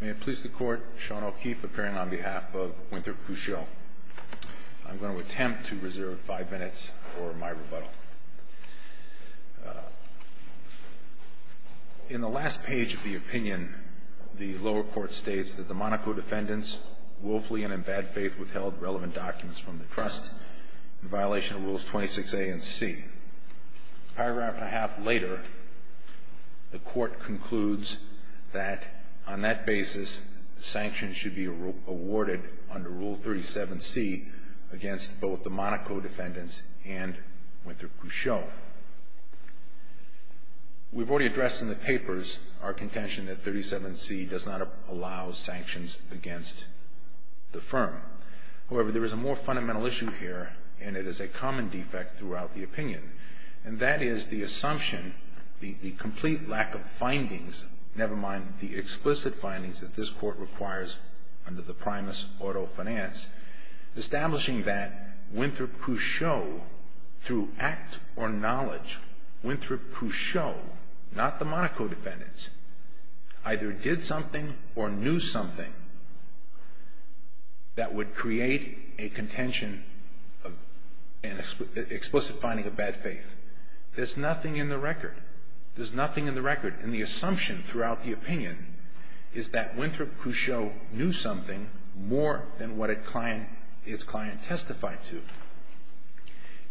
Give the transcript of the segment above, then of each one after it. May it please the Court, Sean O'Keefe appearing on behalf of Winthrop Couchot. I'm going to attempt to reserve five minutes for my rebuttal. In the last page of the opinion, the lower court states that the Monaco defendants woefully and in bad faith withheld relevant documents from the Trust in violation of Rules 26A and C. A paragraph and a half later, the Court concludes that on that basis, sanctions should be awarded under Rule 37C against both the Monaco defendants and Winthrop Couchot. We've already addressed in the papers our contention that 37C does not allow sanctions against the firm. However, there is a more fundamental issue here, and it is a common defect throughout the opinion. And that is the assumption, the complete lack of findings, never mind the explicit findings that this Court requires under the primus auto finance, establishing that Winthrop Couchot, through act or knowledge, Winthrop Couchot, not the Monaco defendants, either did something or knew something that would create a contention, an explicit finding of bad faith. There's nothing in the record. There's nothing in the record. And the assumption throughout the opinion is that Winthrop Couchot knew something more than what its client testified to.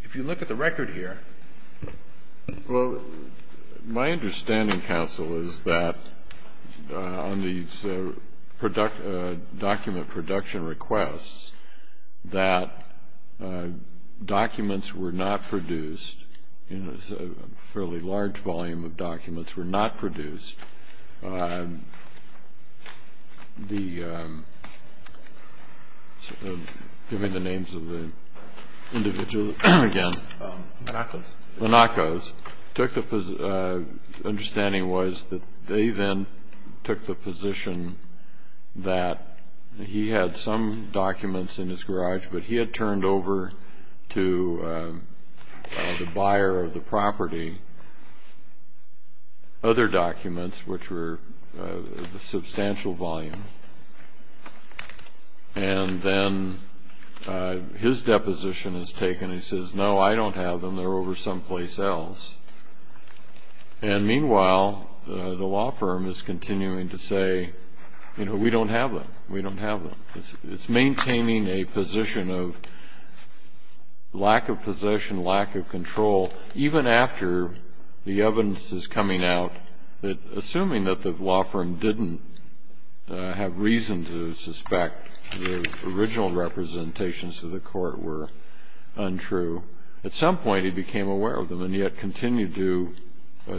If you look at the record here, well, my understanding, counsel, is that on these document production requests, that documents were not produced, a fairly large volume of documents were not produced. The, give me the names of the individuals again. Monacos. The understanding was that they then took the position that he had some documents in his garage, but he had turned over to the buyer of the property other documents which were a substantial volume. And then his deposition is taken. He says, no, I don't have them. They're over someplace else. And meanwhile, the law firm is continuing to say, you know, we don't have them. We don't have them. It's maintaining a position of lack of possession, lack of control, even after the evidence is coming out that, assuming that the law firm didn't have reason to suspect the original representations to the court were untrue, at some point he became aware of them, and yet continued to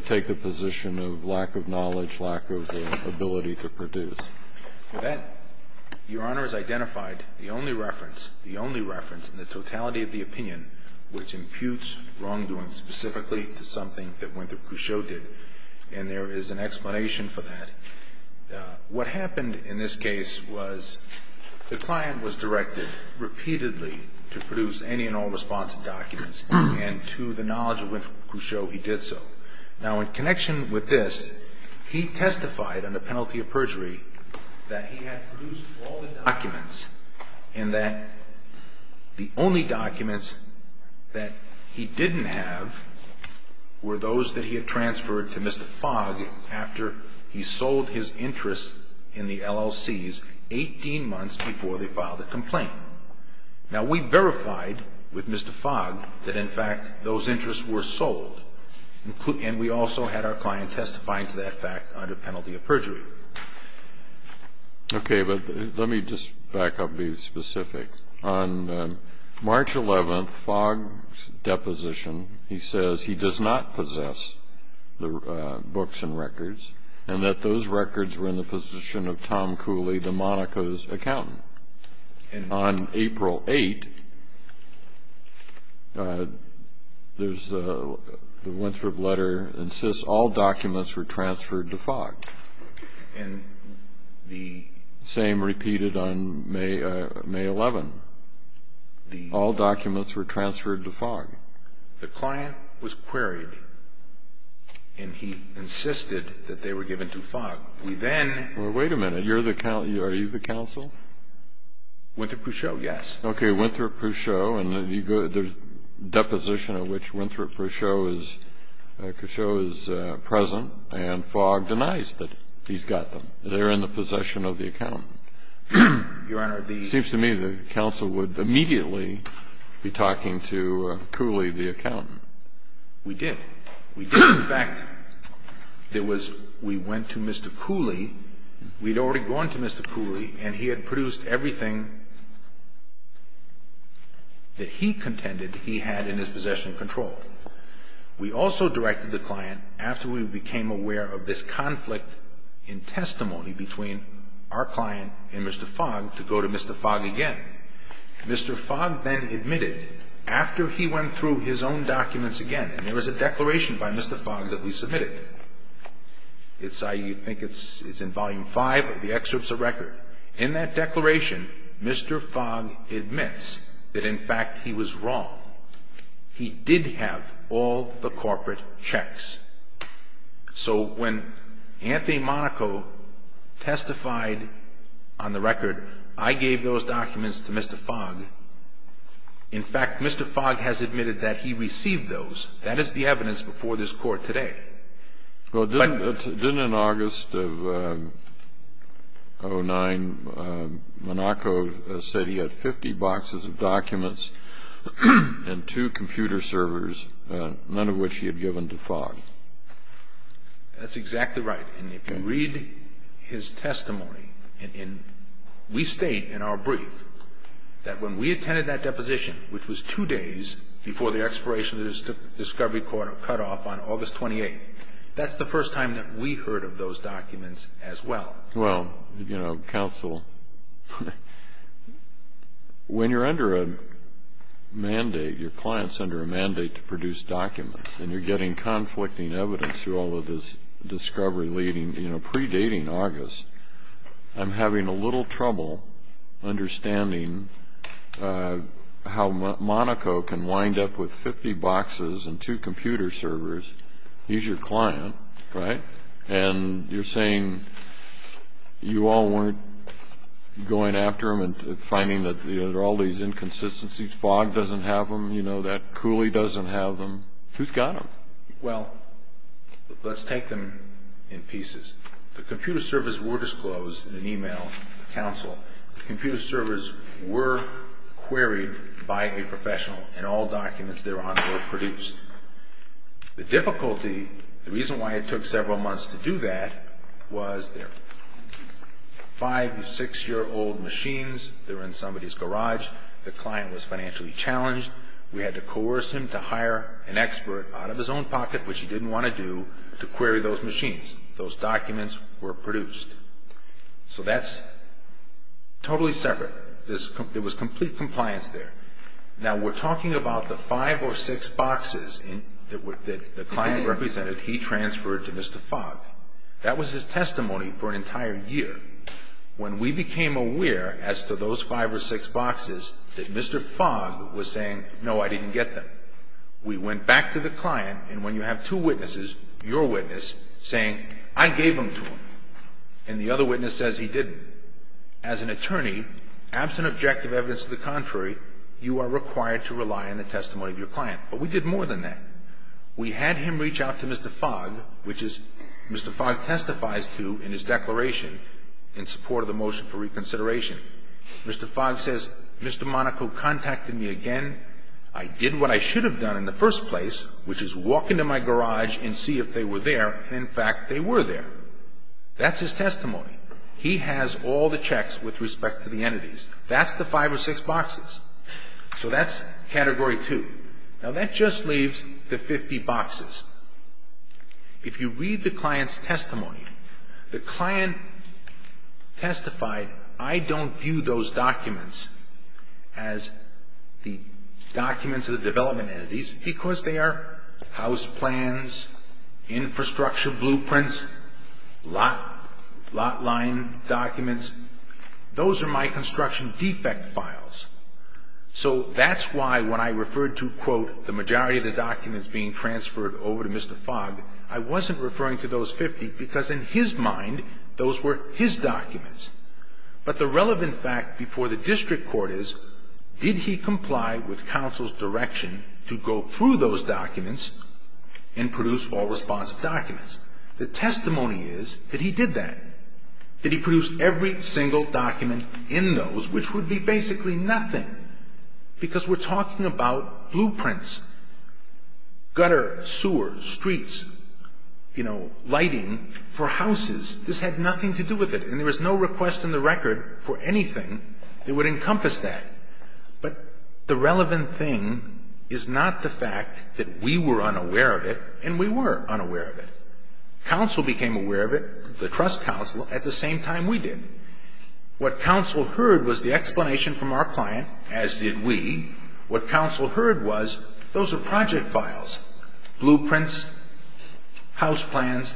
take the position of lack of knowledge, lack of ability to produce. With that, Your Honor has identified the only reference, the only reference in the totality of the opinion which imputes wrongdoing specifically to something that Winthrop Couchot did, and there is an explanation for that. What happened in this case was the client was directed repeatedly to produce any and all responsive documents, and to the knowledge of Winthrop Couchot, he did so. Now, in connection with this, he testified under penalty of perjury that he had produced all the documents and that the only documents that he didn't have were those that he had transferred to Mr. Fogg after he sold his interests in the LLCs 18 months before they filed a complaint. Now, we verified with Mr. Fogg that, in fact, those interests were sold, and we also had our client testify to that fact under penalty of perjury. Okay, but let me just back up and be specific. On March 11, Fogg's deposition, he says he does not possess the books and records and that those records were in the position of Tom Cooley, the Monaco's accountant. On April 8, the Winthrop letter insists all documents were transferred to Fogg. The same repeated on May 11. All documents were transferred to Fogg. The client was queried, and he insisted that they were given to Fogg. Well, wait a minute. Are you the counsel? Winthrop-Pouchot, yes. Okay, Winthrop-Pouchot, and there's a deposition in which Winthrop-Pouchot is present, and Fogg denies that he's got them. They're in the possession of the accountant. It seems to me the counsel would immediately be talking to Cooley, the accountant. We did. We did. In fact, there was we went to Mr. Cooley. We'd already gone to Mr. Cooley, and he had produced everything that he contended he had in his possession of control. We also directed the client, after we became aware of this conflict in testimony between our client and Mr. Fogg, to go to Mr. Fogg again. Mr. Fogg then admitted, after he went through his own documents again, and there was a declaration by Mr. Fogg that we submitted. I think it's in Volume 5 of the excerpts of record. In that declaration, Mr. Fogg admits that, in fact, he was wrong. He did have all the corporate checks. So when Anthony Monaco testified on the record, I gave those documents to Mr. Fogg, in fact, Mr. Fogg has admitted that he received those. That is the evidence before this Court today. Well, didn't in August of 2009, Monaco said he had 50 boxes of documents and two computer servers, none of which he had given to Fogg. That's exactly right, and if you read his testimony, we state in our brief that when we attended that deposition, which was two days before the expiration of the discovery quarter cutoff on August 28th, that's the first time that we heard of those documents as well. Well, you know, counsel, when you're under a mandate, your client's under a mandate to produce documents, and you're getting conflicting evidence through all of this discovery leading, you know, predating August, I'm having a little trouble understanding how Monaco can wind up with 50 boxes and two computer servers. He's your client, right, and you're saying you all weren't going after him and finding that there are all these inconsistencies, Fogg doesn't have them, you know, that Cooley doesn't have them. Who's got them? Well, let's take them in pieces. The computer servers were disclosed in an e-mail, counsel. The computer servers were queried by a professional, and all documents thereon were produced. The difficulty, the reason why it took several months to do that was there were five or six-year-old machines. They were in somebody's garage. The client was financially challenged. We had to coerce him to hire an expert out of his own pocket, which he didn't want to do, to query those machines. Those documents were produced. So that's totally separate. There was complete compliance there. Now, we're talking about the five or six boxes that the client represented he transferred to Mr. Fogg. That was his testimony for an entire year. When we became aware as to those five or six boxes that Mr. Fogg was saying, no, I didn't get them, we went back to the client, and when you have two witnesses, your witness, saying, I gave them to him, and the other witness says he didn't, as an attorney, absent objective evidence to the contrary, you are required to rely on the testimony of your client. But we did more than that. We had him reach out to Mr. Fogg, which Mr. Fogg testifies to in his declaration in support of the motion for reconsideration. Mr. Fogg says, Mr. Monaco contacted me again. I did what I should have done in the first place, which is walk into my garage and see if they were there, and, in fact, they were there. That's his testimony. He has all the checks with respect to the entities. That's the five or six boxes. So that's Category 2. Now, that just leaves the 50 boxes. If you read the client's testimony, the client testified, I don't view those documents as the documents of the development entities because they are house plans, infrastructure blueprints, lot line documents. Those are my construction defect files. So that's why when I referred to, quote, the majority of the documents being transferred over to Mr. Fogg, I wasn't referring to those 50 because, in his mind, those were his documents. But the relevant fact before the district court is, did he comply with counsel's direction to go through those documents and produce all responsive documents? The testimony is that he did that. Did he produce every single document in those, which would be basically nothing, because we're talking about blueprints, gutter, sewers, streets, you know, lighting for houses. This had nothing to do with it, and there was no request in the record for anything that would encompass that. But the relevant thing is not the fact that we were unaware of it, and we were unaware of it. Counsel became aware of it, the trust counsel, at the same time we did. What counsel heard was the explanation from our client, as did we. What counsel heard was, those are project files, blueprints, house plans.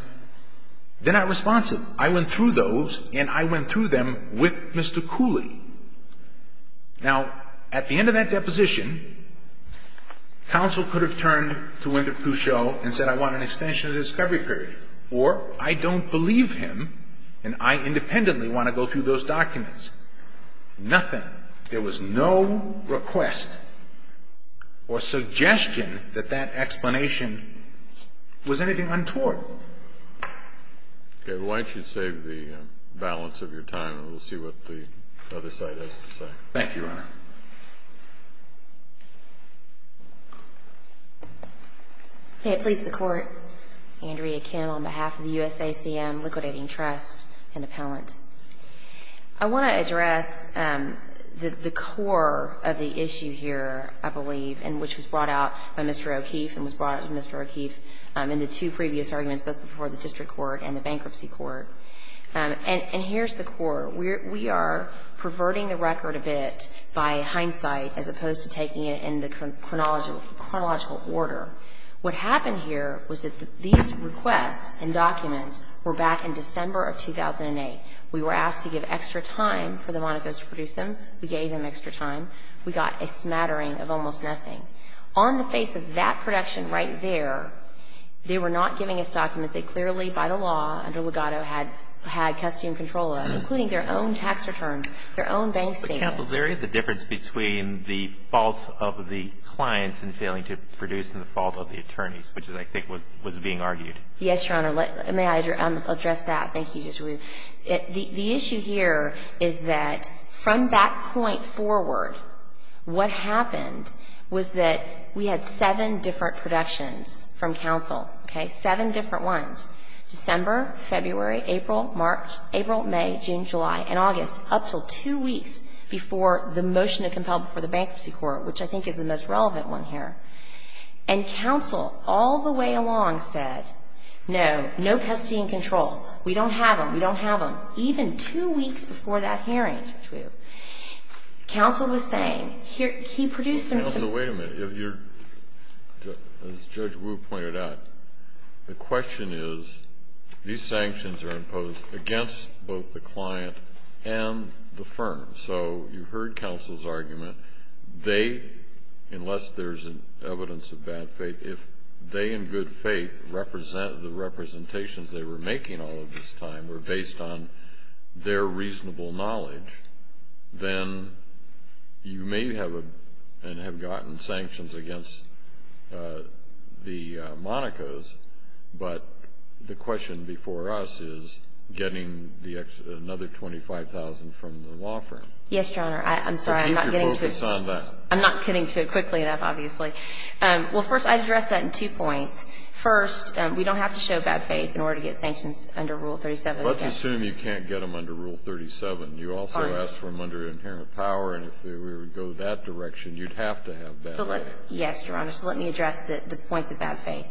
They're not responsive. I went through those, and I went through them with Mr. Cooley. Now, at the end of that deposition, counsel could have turned to Winter Peauceau and said, I want an extension of the discovery period, or I don't believe him, and I independently want to go through those documents. Nothing. There was no request or suggestion that that explanation was anything untoward. Okay. Why don't you save the balance of your time, and we'll see what the other side has to say. Thank you, Your Honor. May it please the Court. Andrea Kim on behalf of the USACM Liquidating Trust and Appellant. I want to address the core of the issue here, I believe, and which was brought out by Mr. O'Keefe and was brought out by Mr. O'Keefe in the two previous arguments, both before the district court and the bankruptcy court. And here's the core. We are perverting the record a bit by hindsight as opposed to taking it in the chronological order. What happened here was that these requests and documents were back in December of 2008. We were asked to give extra time for the Monacos to produce them. We gave them extra time. We got a smattering of almost nothing. On the face of that production right there, they were not giving us documents they clearly, by the law, under Legato, had custom control of, including their own tax returns, their own bank statements. Counsel, there is a difference between the fault of the clients in failing to produce and the fault of the attorneys, which I think was being argued. Yes, Your Honor. May I address that? Thank you, Judge Ruud. The issue here is that from that point forward, what happened was that we had seven different productions from counsel, okay, seven different ones, December, February, April, March, April, May, June, July, and August, up until two weeks before the motion to compel before the Bankruptcy Court, which I think is the most relevant one here. And counsel, all the way along, said, no, no custody and control. We don't have them. We don't have them. Even two weeks before that hearing, Judge Ruud, counsel was saying, he produced them to me. Counsel, wait a minute. As Judge Ruud pointed out, the question is, these sanctions are imposed against both the client and the firm, so you heard counsel's argument. They, unless there's evidence of bad faith, if they in good faith represent the representations they were making all of this time were based on their reasonable knowledge, then you may have gotten sanctions against the Monacos, but the question before us is getting another $25,000 from the law firm. Yes, Your Honor. I'm sorry, I'm not getting to it. Keep your focus on that. I'm not getting to it quickly enough, obviously. Well, first, I'd address that in two points. First, we don't have to show bad faith in order to get sanctions under Rule 37. Let's assume you can't get them under Rule 37. You also asked for them under inherent power, and if we were to go that direction, you'd have to have bad faith. Yes, Your Honor. So let me address the points of bad faith.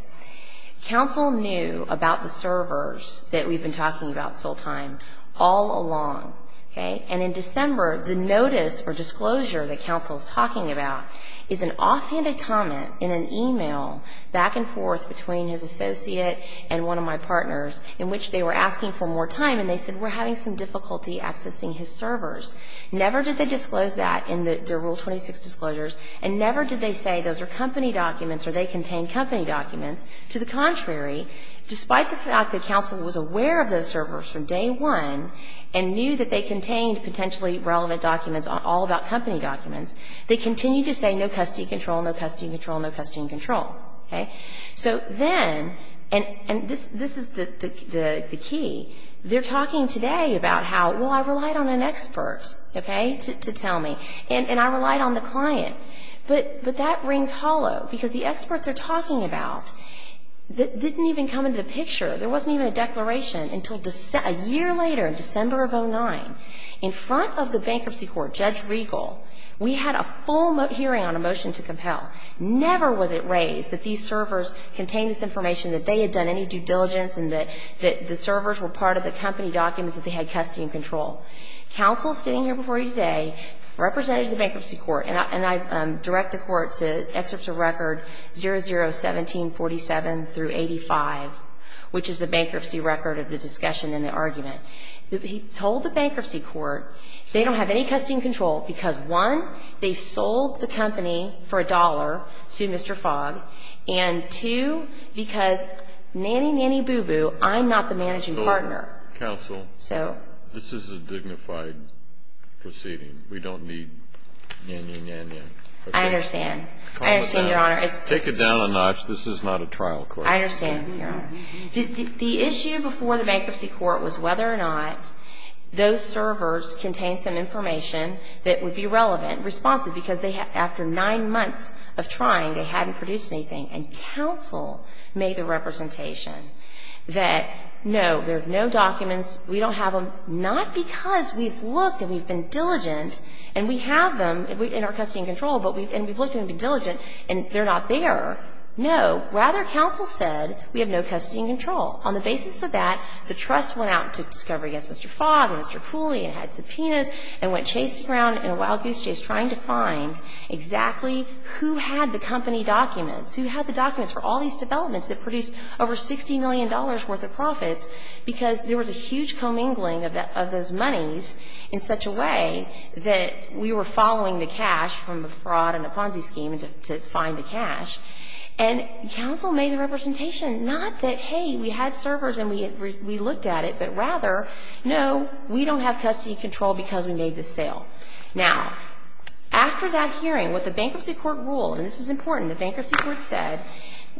Counsel knew about the servers that we've been talking about this whole time all along, okay? And in December, the notice or disclosure that counsel's talking about is an offhanded comment in an e-mail back and forth between his associate and one of my partners in which they were asking for more time, and they said we're having some difficulty accessing his servers. Never did they disclose that in their Rule 26 disclosures, and never did they say those are company documents or they contain company documents. To the contrary, despite the fact that counsel was aware of those servers from day one and knew that they contained potentially relevant documents all about company documents, they continued to say no custody control, no custody control, no custody control. So then, and this is the key, they're talking today about how, well, I relied on an expert. Okay? To tell me. And I relied on the client. But that rings hollow because the expert they're talking about didn't even come into the picture. There wasn't even a declaration until a year later in December of 2009. In front of the bankruptcy court, Judge Regal, we had a full hearing on a motion to compel. Never was it raised that these servers contained this information, that they had done any due diligence and that the servers were part of the company documents that they had custody and control. Counsel, sitting here before you today, represented the bankruptcy court, and I direct the court to excerpts of record 001747 through 85, which is the bankruptcy record of the discussion and the argument. He told the bankruptcy court they don't have any custody and control because, one, they sold the company for a dollar to Mr. Fogg, and, two, because nanny nanny boo boo, I'm not the managing partner. Counsel, this is a dignified proceeding. We don't need nanny nanny. I understand. I understand, Your Honor. Take it down a notch. This is not a trial court. I understand, Your Honor. The issue before the bankruptcy court was whether or not those servers contained some information that would be relevant, responsive, because after nine months of trying, they hadn't produced anything. And counsel made the representation that, no, there are no documents. We don't have them, not because we've looked and we've been diligent, and we have them in our custody and control, and we've looked and been diligent, and they're not there. No. Rather, counsel said we have no custody and control. On the basis of that, the trust went out to discover against Mr. Fogg and Mr. Fooley and had subpoenas and went chasing around in a wild goose chase trying to find exactly who had the company documents, who had the documents for all these developments that produced over $60 million worth of profits, because there was a huge commingling of those monies in such a way that we were following the cash from a fraud and a Ponzi scheme to find the cash. And counsel made the representation, not that, hey, we had servers and we looked at it, but rather, no, we don't have custody and control because we made the sale. Now, after that hearing, what the bankruptcy court ruled, and this is important, the bankruptcy court said,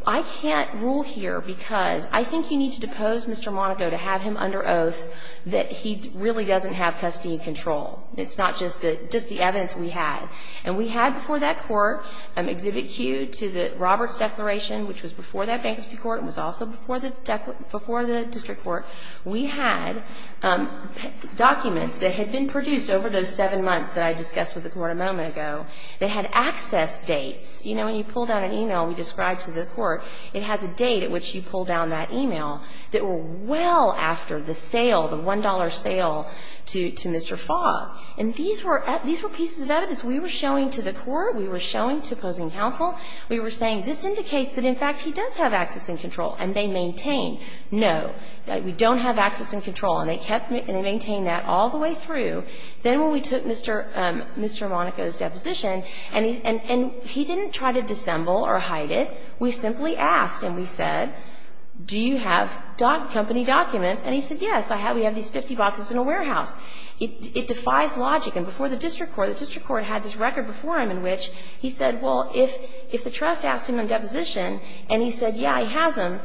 I can't rule here because I think you need to depose Mr. Monaco to have him under oath that he really doesn't have custody and control. It's not just the evidence we had. And we had before that court Exhibit Q to the Roberts Declaration, which was before that bankruptcy court and was also before the district court, we had documents that had been produced over those seven months that I discussed with the court a moment ago that had access dates. You know, when you pull down an e-mail and you describe to the court, it has a date at which you pull down that e-mail that were well after the sale, the $1 sale to Mr. Fogg. And these were pieces of evidence we were showing to the court, we were showing to opposing counsel. We were saying, this indicates that, in fact, he does have access and control. And they maintained, no, we don't have access and control. And they kept and they maintained that all the way through. Then when we took Mr. Monaco's deposition, and he didn't try to dissemble or hide it. We simply asked and we said, do you have company documents? And he said, yes, I have. We have these 50 boxes in a warehouse. It defies logic. And before the district court, the district court had this record before him in which he said, well, if the trust asked him on deposition and he said, yeah, he has them,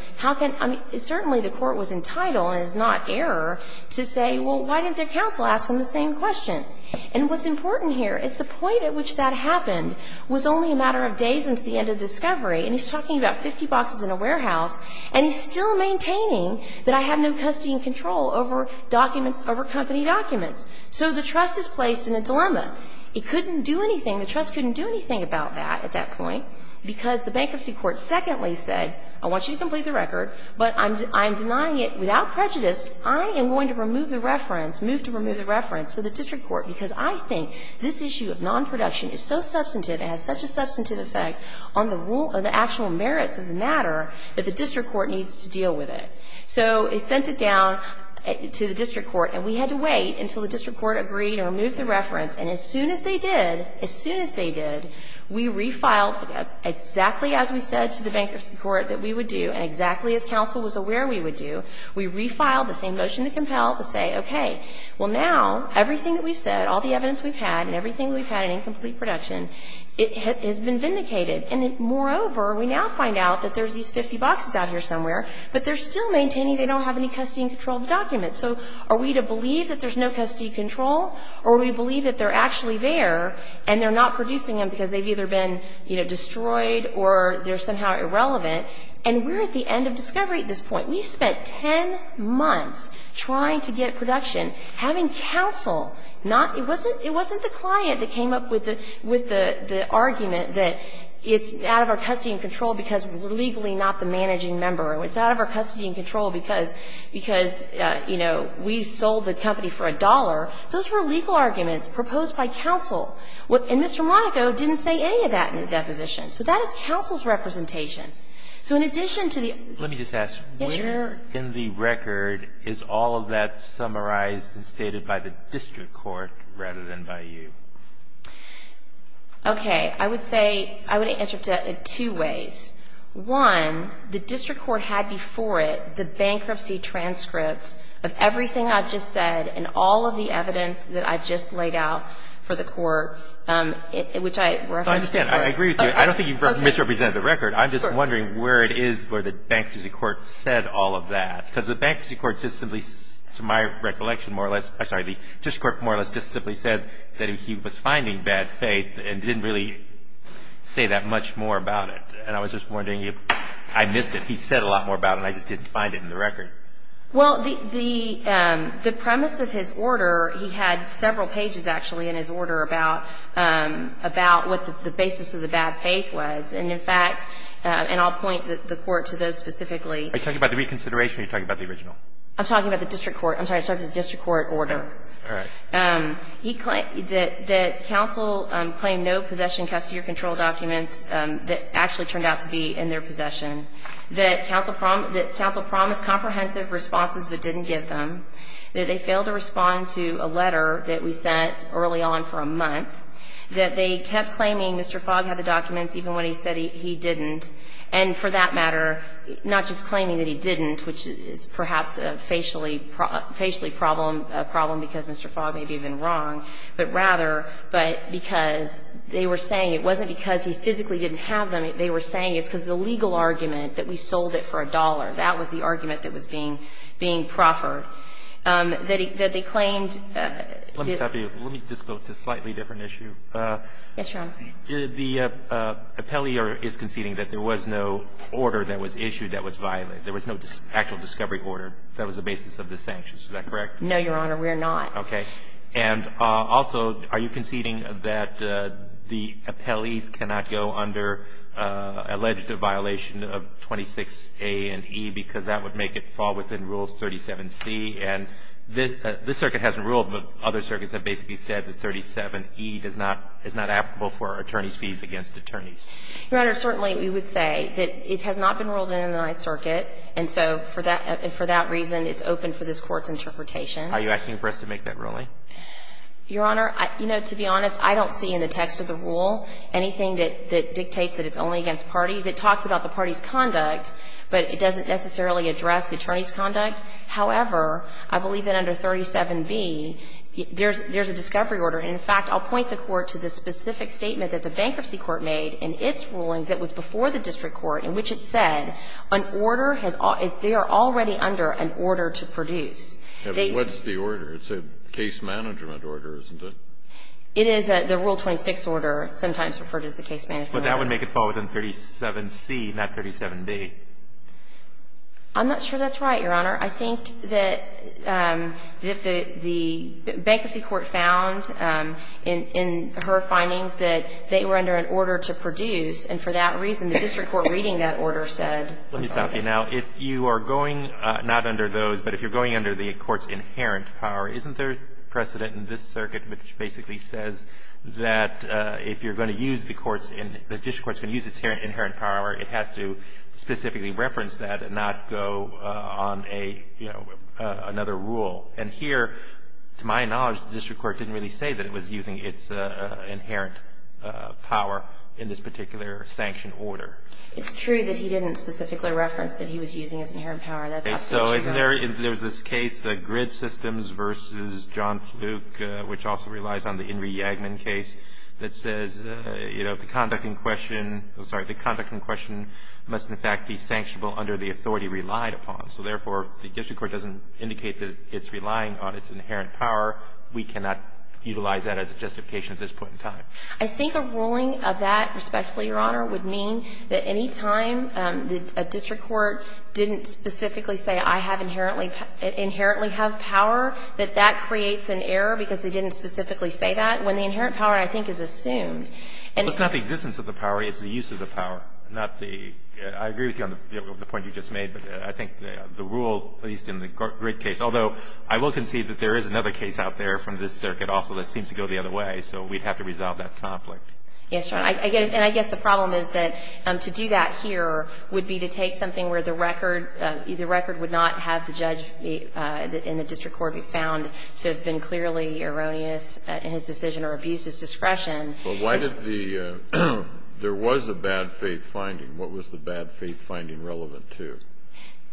certainly the court was entitled, and it is not error, to say, well, why didn't their counsel ask him the same question? And what's important here is the point at which that happened was only a matter of days into the end of the discovery. And he's talking about 50 boxes in a warehouse, and he's still maintaining that I have no custody and control over documents, over company documents. So the trust is placed in a dilemma. It couldn't do anything, the trust couldn't do anything about that at that point because the bankruptcy court secondly said, I want you to complete the record, but I'm denying it without prejudice. I am going to remove the reference, move to remove the reference to the district court because I think this issue of non-production is so substantive, it has such a substantive effect on the actual merits of the matter that the district court needs to deal with it. So it sent it down to the district court, and we had to wait until the district court agreed to remove the reference. And as soon as they did, as soon as they did, we refiled exactly as we said to the bankruptcy court that we would do and exactly as counsel was aware we would do, we refiled the same motion to compel to say, okay, well, now everything that we've said, all the evidence we've had and everything we've had in incomplete production, it has been vindicated. And moreover, we now find out that there's these 50 boxes out here somewhere, but they're still maintaining they don't have any custody and control of the documents. So are we to believe that there's no custody and control, or are we to believe that they're actually there and they're not producing them because they've either been, you know, destroyed or they're somehow irrelevant? And we're at the end of discovery at this point. We spent 10 months trying to get production, having counsel not – it wasn't the client that came up with the argument that it's out of our custody and control because we're legally not the managing member, or it's out of our custody and control because, you know, we sold the company for a dollar. Those were legal arguments proposed by counsel. And Mr. Monaco didn't say any of that in the deposition. So that is counsel's representation. So in addition to the – Let me just ask. Yes, Your Honor. Where in the record is all of that summarized and stated by the district court rather than by you? Okay. I would say – I would answer it two ways. One, the district court had before it the bankruptcy transcripts of everything I've just said and all of the evidence that I've just laid out for the court, which I – I understand. I agree with you. I don't think you misrepresented the record. I'm just wondering where it is where the bankruptcy court said all of that. Because the bankruptcy court just simply, to my recollection more or less – I'm sorry, the district court more or less just simply said that he was finding bad faith and didn't really say that much more about it. And I was just wondering if – I missed it. He said a lot more about it and I just didn't find it in the record. Well, the premise of his order, he had several pages actually in his order about what the basis of the bad faith was. And in fact – and I'll point the court to those specifically. Are you talking about the reconsideration or are you talking about the original? I'm talking about the district court. I'm talking about the district court order. All right. I'm sorry. He – that counsel claimed no possession, custody or control documents that actually turned out to be in their possession, that counsel promised comprehensive responses but didn't get them, that they failed to respond to a letter that we sent early on for a month, that they kept claiming Mr. Fogg had the documents even when he said he didn't, and for that matter, not just claiming that he didn't, which is perhaps a facially problem because Mr. Fogg may be even wrong, but rather because they were saying it wasn't because he physically didn't have them. They were saying it's because of the legal argument that we sold it for a dollar. That was the argument that was being proffered. That they claimed – Let me stop you. Let me just go to a slightly different issue. Yes, Your Honor. The appellee is conceding that there was no order that was issued that was violent. There was no actual discovery order that was the basis of the sanctions. Is that correct? No, Your Honor. We are not. Okay. And also, are you conceding that the appellees cannot go under alleged violation of 26A and E because that would make it fall within Rule 37C? And this circuit hasn't ruled, but other circuits have basically said that 37E does not – is not applicable for attorneys' fees against attorneys. Your Honor, certainly we would say that it has not been ruled in the Ninth Circuit, and so for that reason, it's open for this Court's interpretation. Are you asking for us to make that ruling? Your Honor, you know, to be honest, I don't see in the text of the rule anything that dictates that it's only against parties. It talks about the party's conduct, but it doesn't necessarily address the attorney's conduct. However, I believe that under 37B, there's a discovery order. And in fact, I'll point the Court to the specific statement that the Bankruptcy Court made in its ruling that was before the district court in which it said an order has – they are already under an order to produce. What's the order? It's a case management order, isn't it? It is. The Rule 26 order, sometimes referred to as a case management order. But that would make it fall within 37C, not 37B. I'm not sure that's right, Your Honor. I think that the Bankruptcy Court found in her findings that they were under an order to produce, and for that reason, the district court reading that order said – Let me stop you. Now, if you are going not under those, but if you're going under the court's inherent power, isn't there precedent in this circuit which basically says that if you're going to use the court's – the district court's going to use its inherent power, it has to specifically reference that and not go on a, you know, another rule. And here, to my knowledge, the district court didn't really say that it was using its inherent power in this particular sanctioned order. It's true that he didn't specifically reference that he was using his inherent power. That's absolutely right. Okay. So isn't there – there's this case, the Grid Systems v. John Fluke, which also relies on the Henry-Yagnon case, that says, you know, the conduct in question – I'm sorry – the conduct in question must, in fact, be sanctionable under the authority relied upon. So therefore, if the district court doesn't indicate that it's relying on its inherent power, we cannot utilize that as a justification at this point in time. I think a ruling of that, respectfully, Your Honor, would mean that any time a district court didn't specifically say, I have inherently – inherently have power, that that when the inherent power, I think, is assumed. Well, it's not the existence of the power. It's the use of the power, not the – I agree with you on the point you just made. But I think the rule, at least in the Grid case – although, I will concede that there is another case out there from this circuit also that seems to go the other way. So we'd have to resolve that conflict. Yes, Your Honor. And I guess the problem is that to do that here would be to take something where the record – the record would not have the judge in the district court be found to have been clearly erroneous in his decision or abused his discretion. But why did the – there was a bad faith finding. What was the bad faith finding relevant to?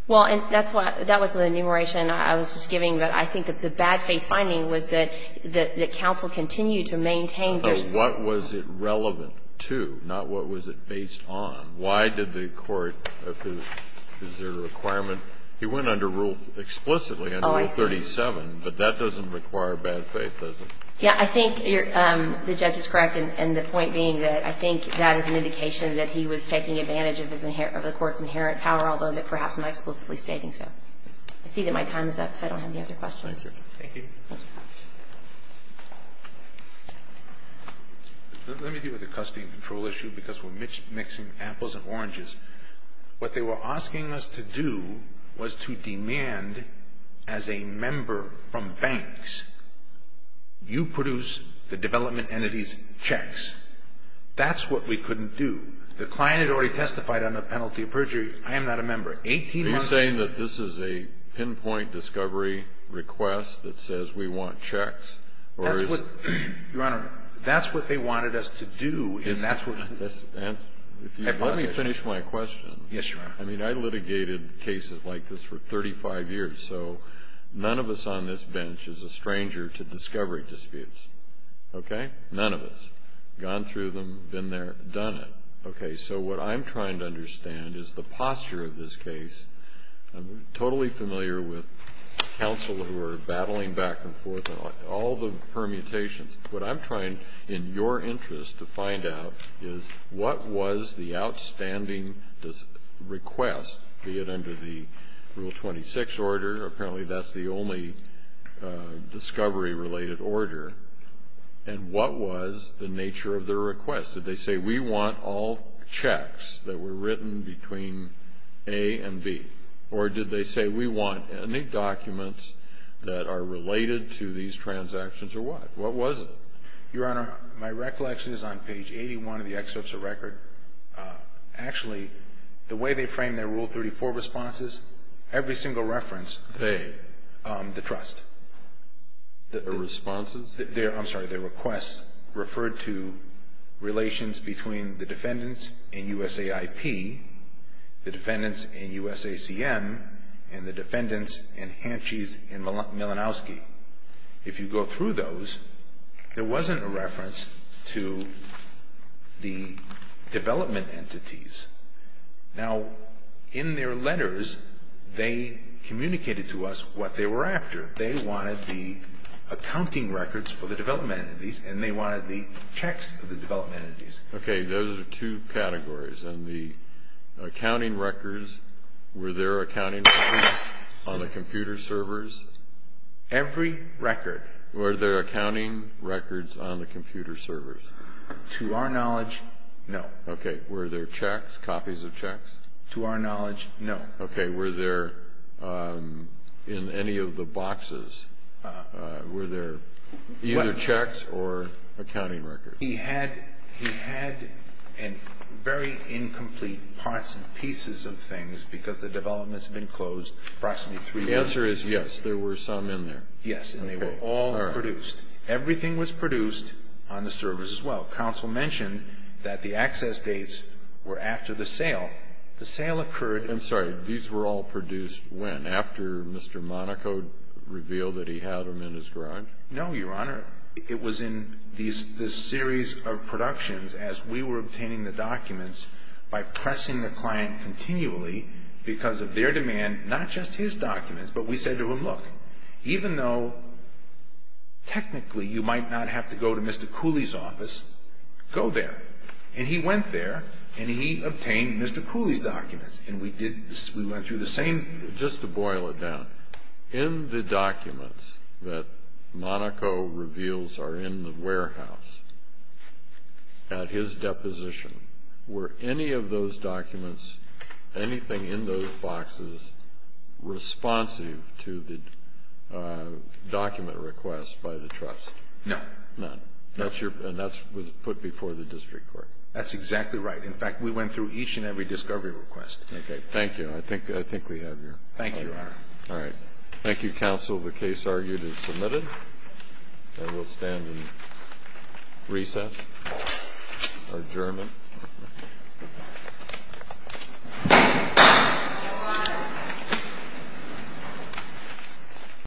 Well, and that's why – that was an enumeration I was just giving. But I think that the bad faith finding was that the counsel continued to maintain there's – But what was it relevant to, not what was it based on? Why did the court – is there a requirement? He went under Rule – explicitly under Rule 37. But that doesn't require bad faith, does it? Yeah. I think you're – the judge is correct. And the point being that I think that is an indication that he was taking advantage of the court's inherent power, although perhaps not explicitly stating so. I see that my time is up. If I don't have any other questions. Thank you. Let me deal with the custody and control issue because we're mixing apples and oranges. What they were asking us to do was to demand as a member from banks, you produce the development entity's checks. That's what we couldn't do. The client had already testified on the penalty of perjury. I am not a member. Eighteen months ago – Are you saying that this is a pinpoint discovery request that says we want checks or is it – That's what – Your Honor, that's what they wanted us to do. And that's what – Let me finish my question. Yes, Your Honor. I mean, I litigated cases like this for 35 years. So none of us on this bench is a stranger to discovery disputes. Okay? None of us. Gone through them, been there, done it. Okay. So what I'm trying to understand is the posture of this case. I'm totally familiar with counsel who are battling back and forth on all the permutations. What I'm trying, in your interest, to find out is what was the outstanding request, be it under the Rule 26 order – apparently that's the only discovery-related order – and what was the nature of their request? Did they say, we want all checks that were written between A and B? Or did they say, we want any documents that are related to these transactions or what? What was it? Your Honor, my recollection is on page 81 of the excerpts of record. Actually, the way they framed their Rule 34 responses, every single reference, they – The trust. The responses? I'm sorry. Their requests referred to relations between the defendants in USAIP, the defendants in USACM, and the defendants in Hanschies and Malinowski. If you go through those, there wasn't a reference to the development entities. Now, in their letters, they communicated to us what they were after. They wanted the accounting records for the development entities, and they wanted the checks of the development entities. Okay. Those are two categories. And the accounting records, were there accounting records on the computer servers? Every record. Were there accounting records on the computer servers? To our knowledge, no. Okay. Were there checks, copies of checks? To our knowledge, no. Okay. Were there, in any of the boxes, were there either checks or accounting records? He had very incomplete parts and pieces of things, because the development's been closed approximately three months. The answer is yes. There were some in there. Yes. And they were all produced. Everything was produced on the servers as well. Counsel mentioned that the access dates were after the sale. The sale occurred in the... I'm sorry. These were all produced when? After Mr. Monaco revealed that he had them in his garage? No, Your Honor. It was in this series of productions as we were obtaining the documents by pressing the client continually because of their demand, not just his documents, but we said to him, look, even though technically you might not have to go to Mr. Cooley's office, go there. And he went there, and he obtained Mr. Cooley's documents. And we went through the same... Just to boil it down, in the documents that Monaco reveals are in the warehouse, at his deposition, were any of those documents, anything in those boxes responsive to the document request by the trust? No. No. And that was put before the district court? That's exactly right. In fact, we went through each and every discovery request. Okay. Thank you. I think we have your... Thank you, Your Honor. All right. Thank you, counsel. The case argued is submitted. And we'll stand in recess or adjournment.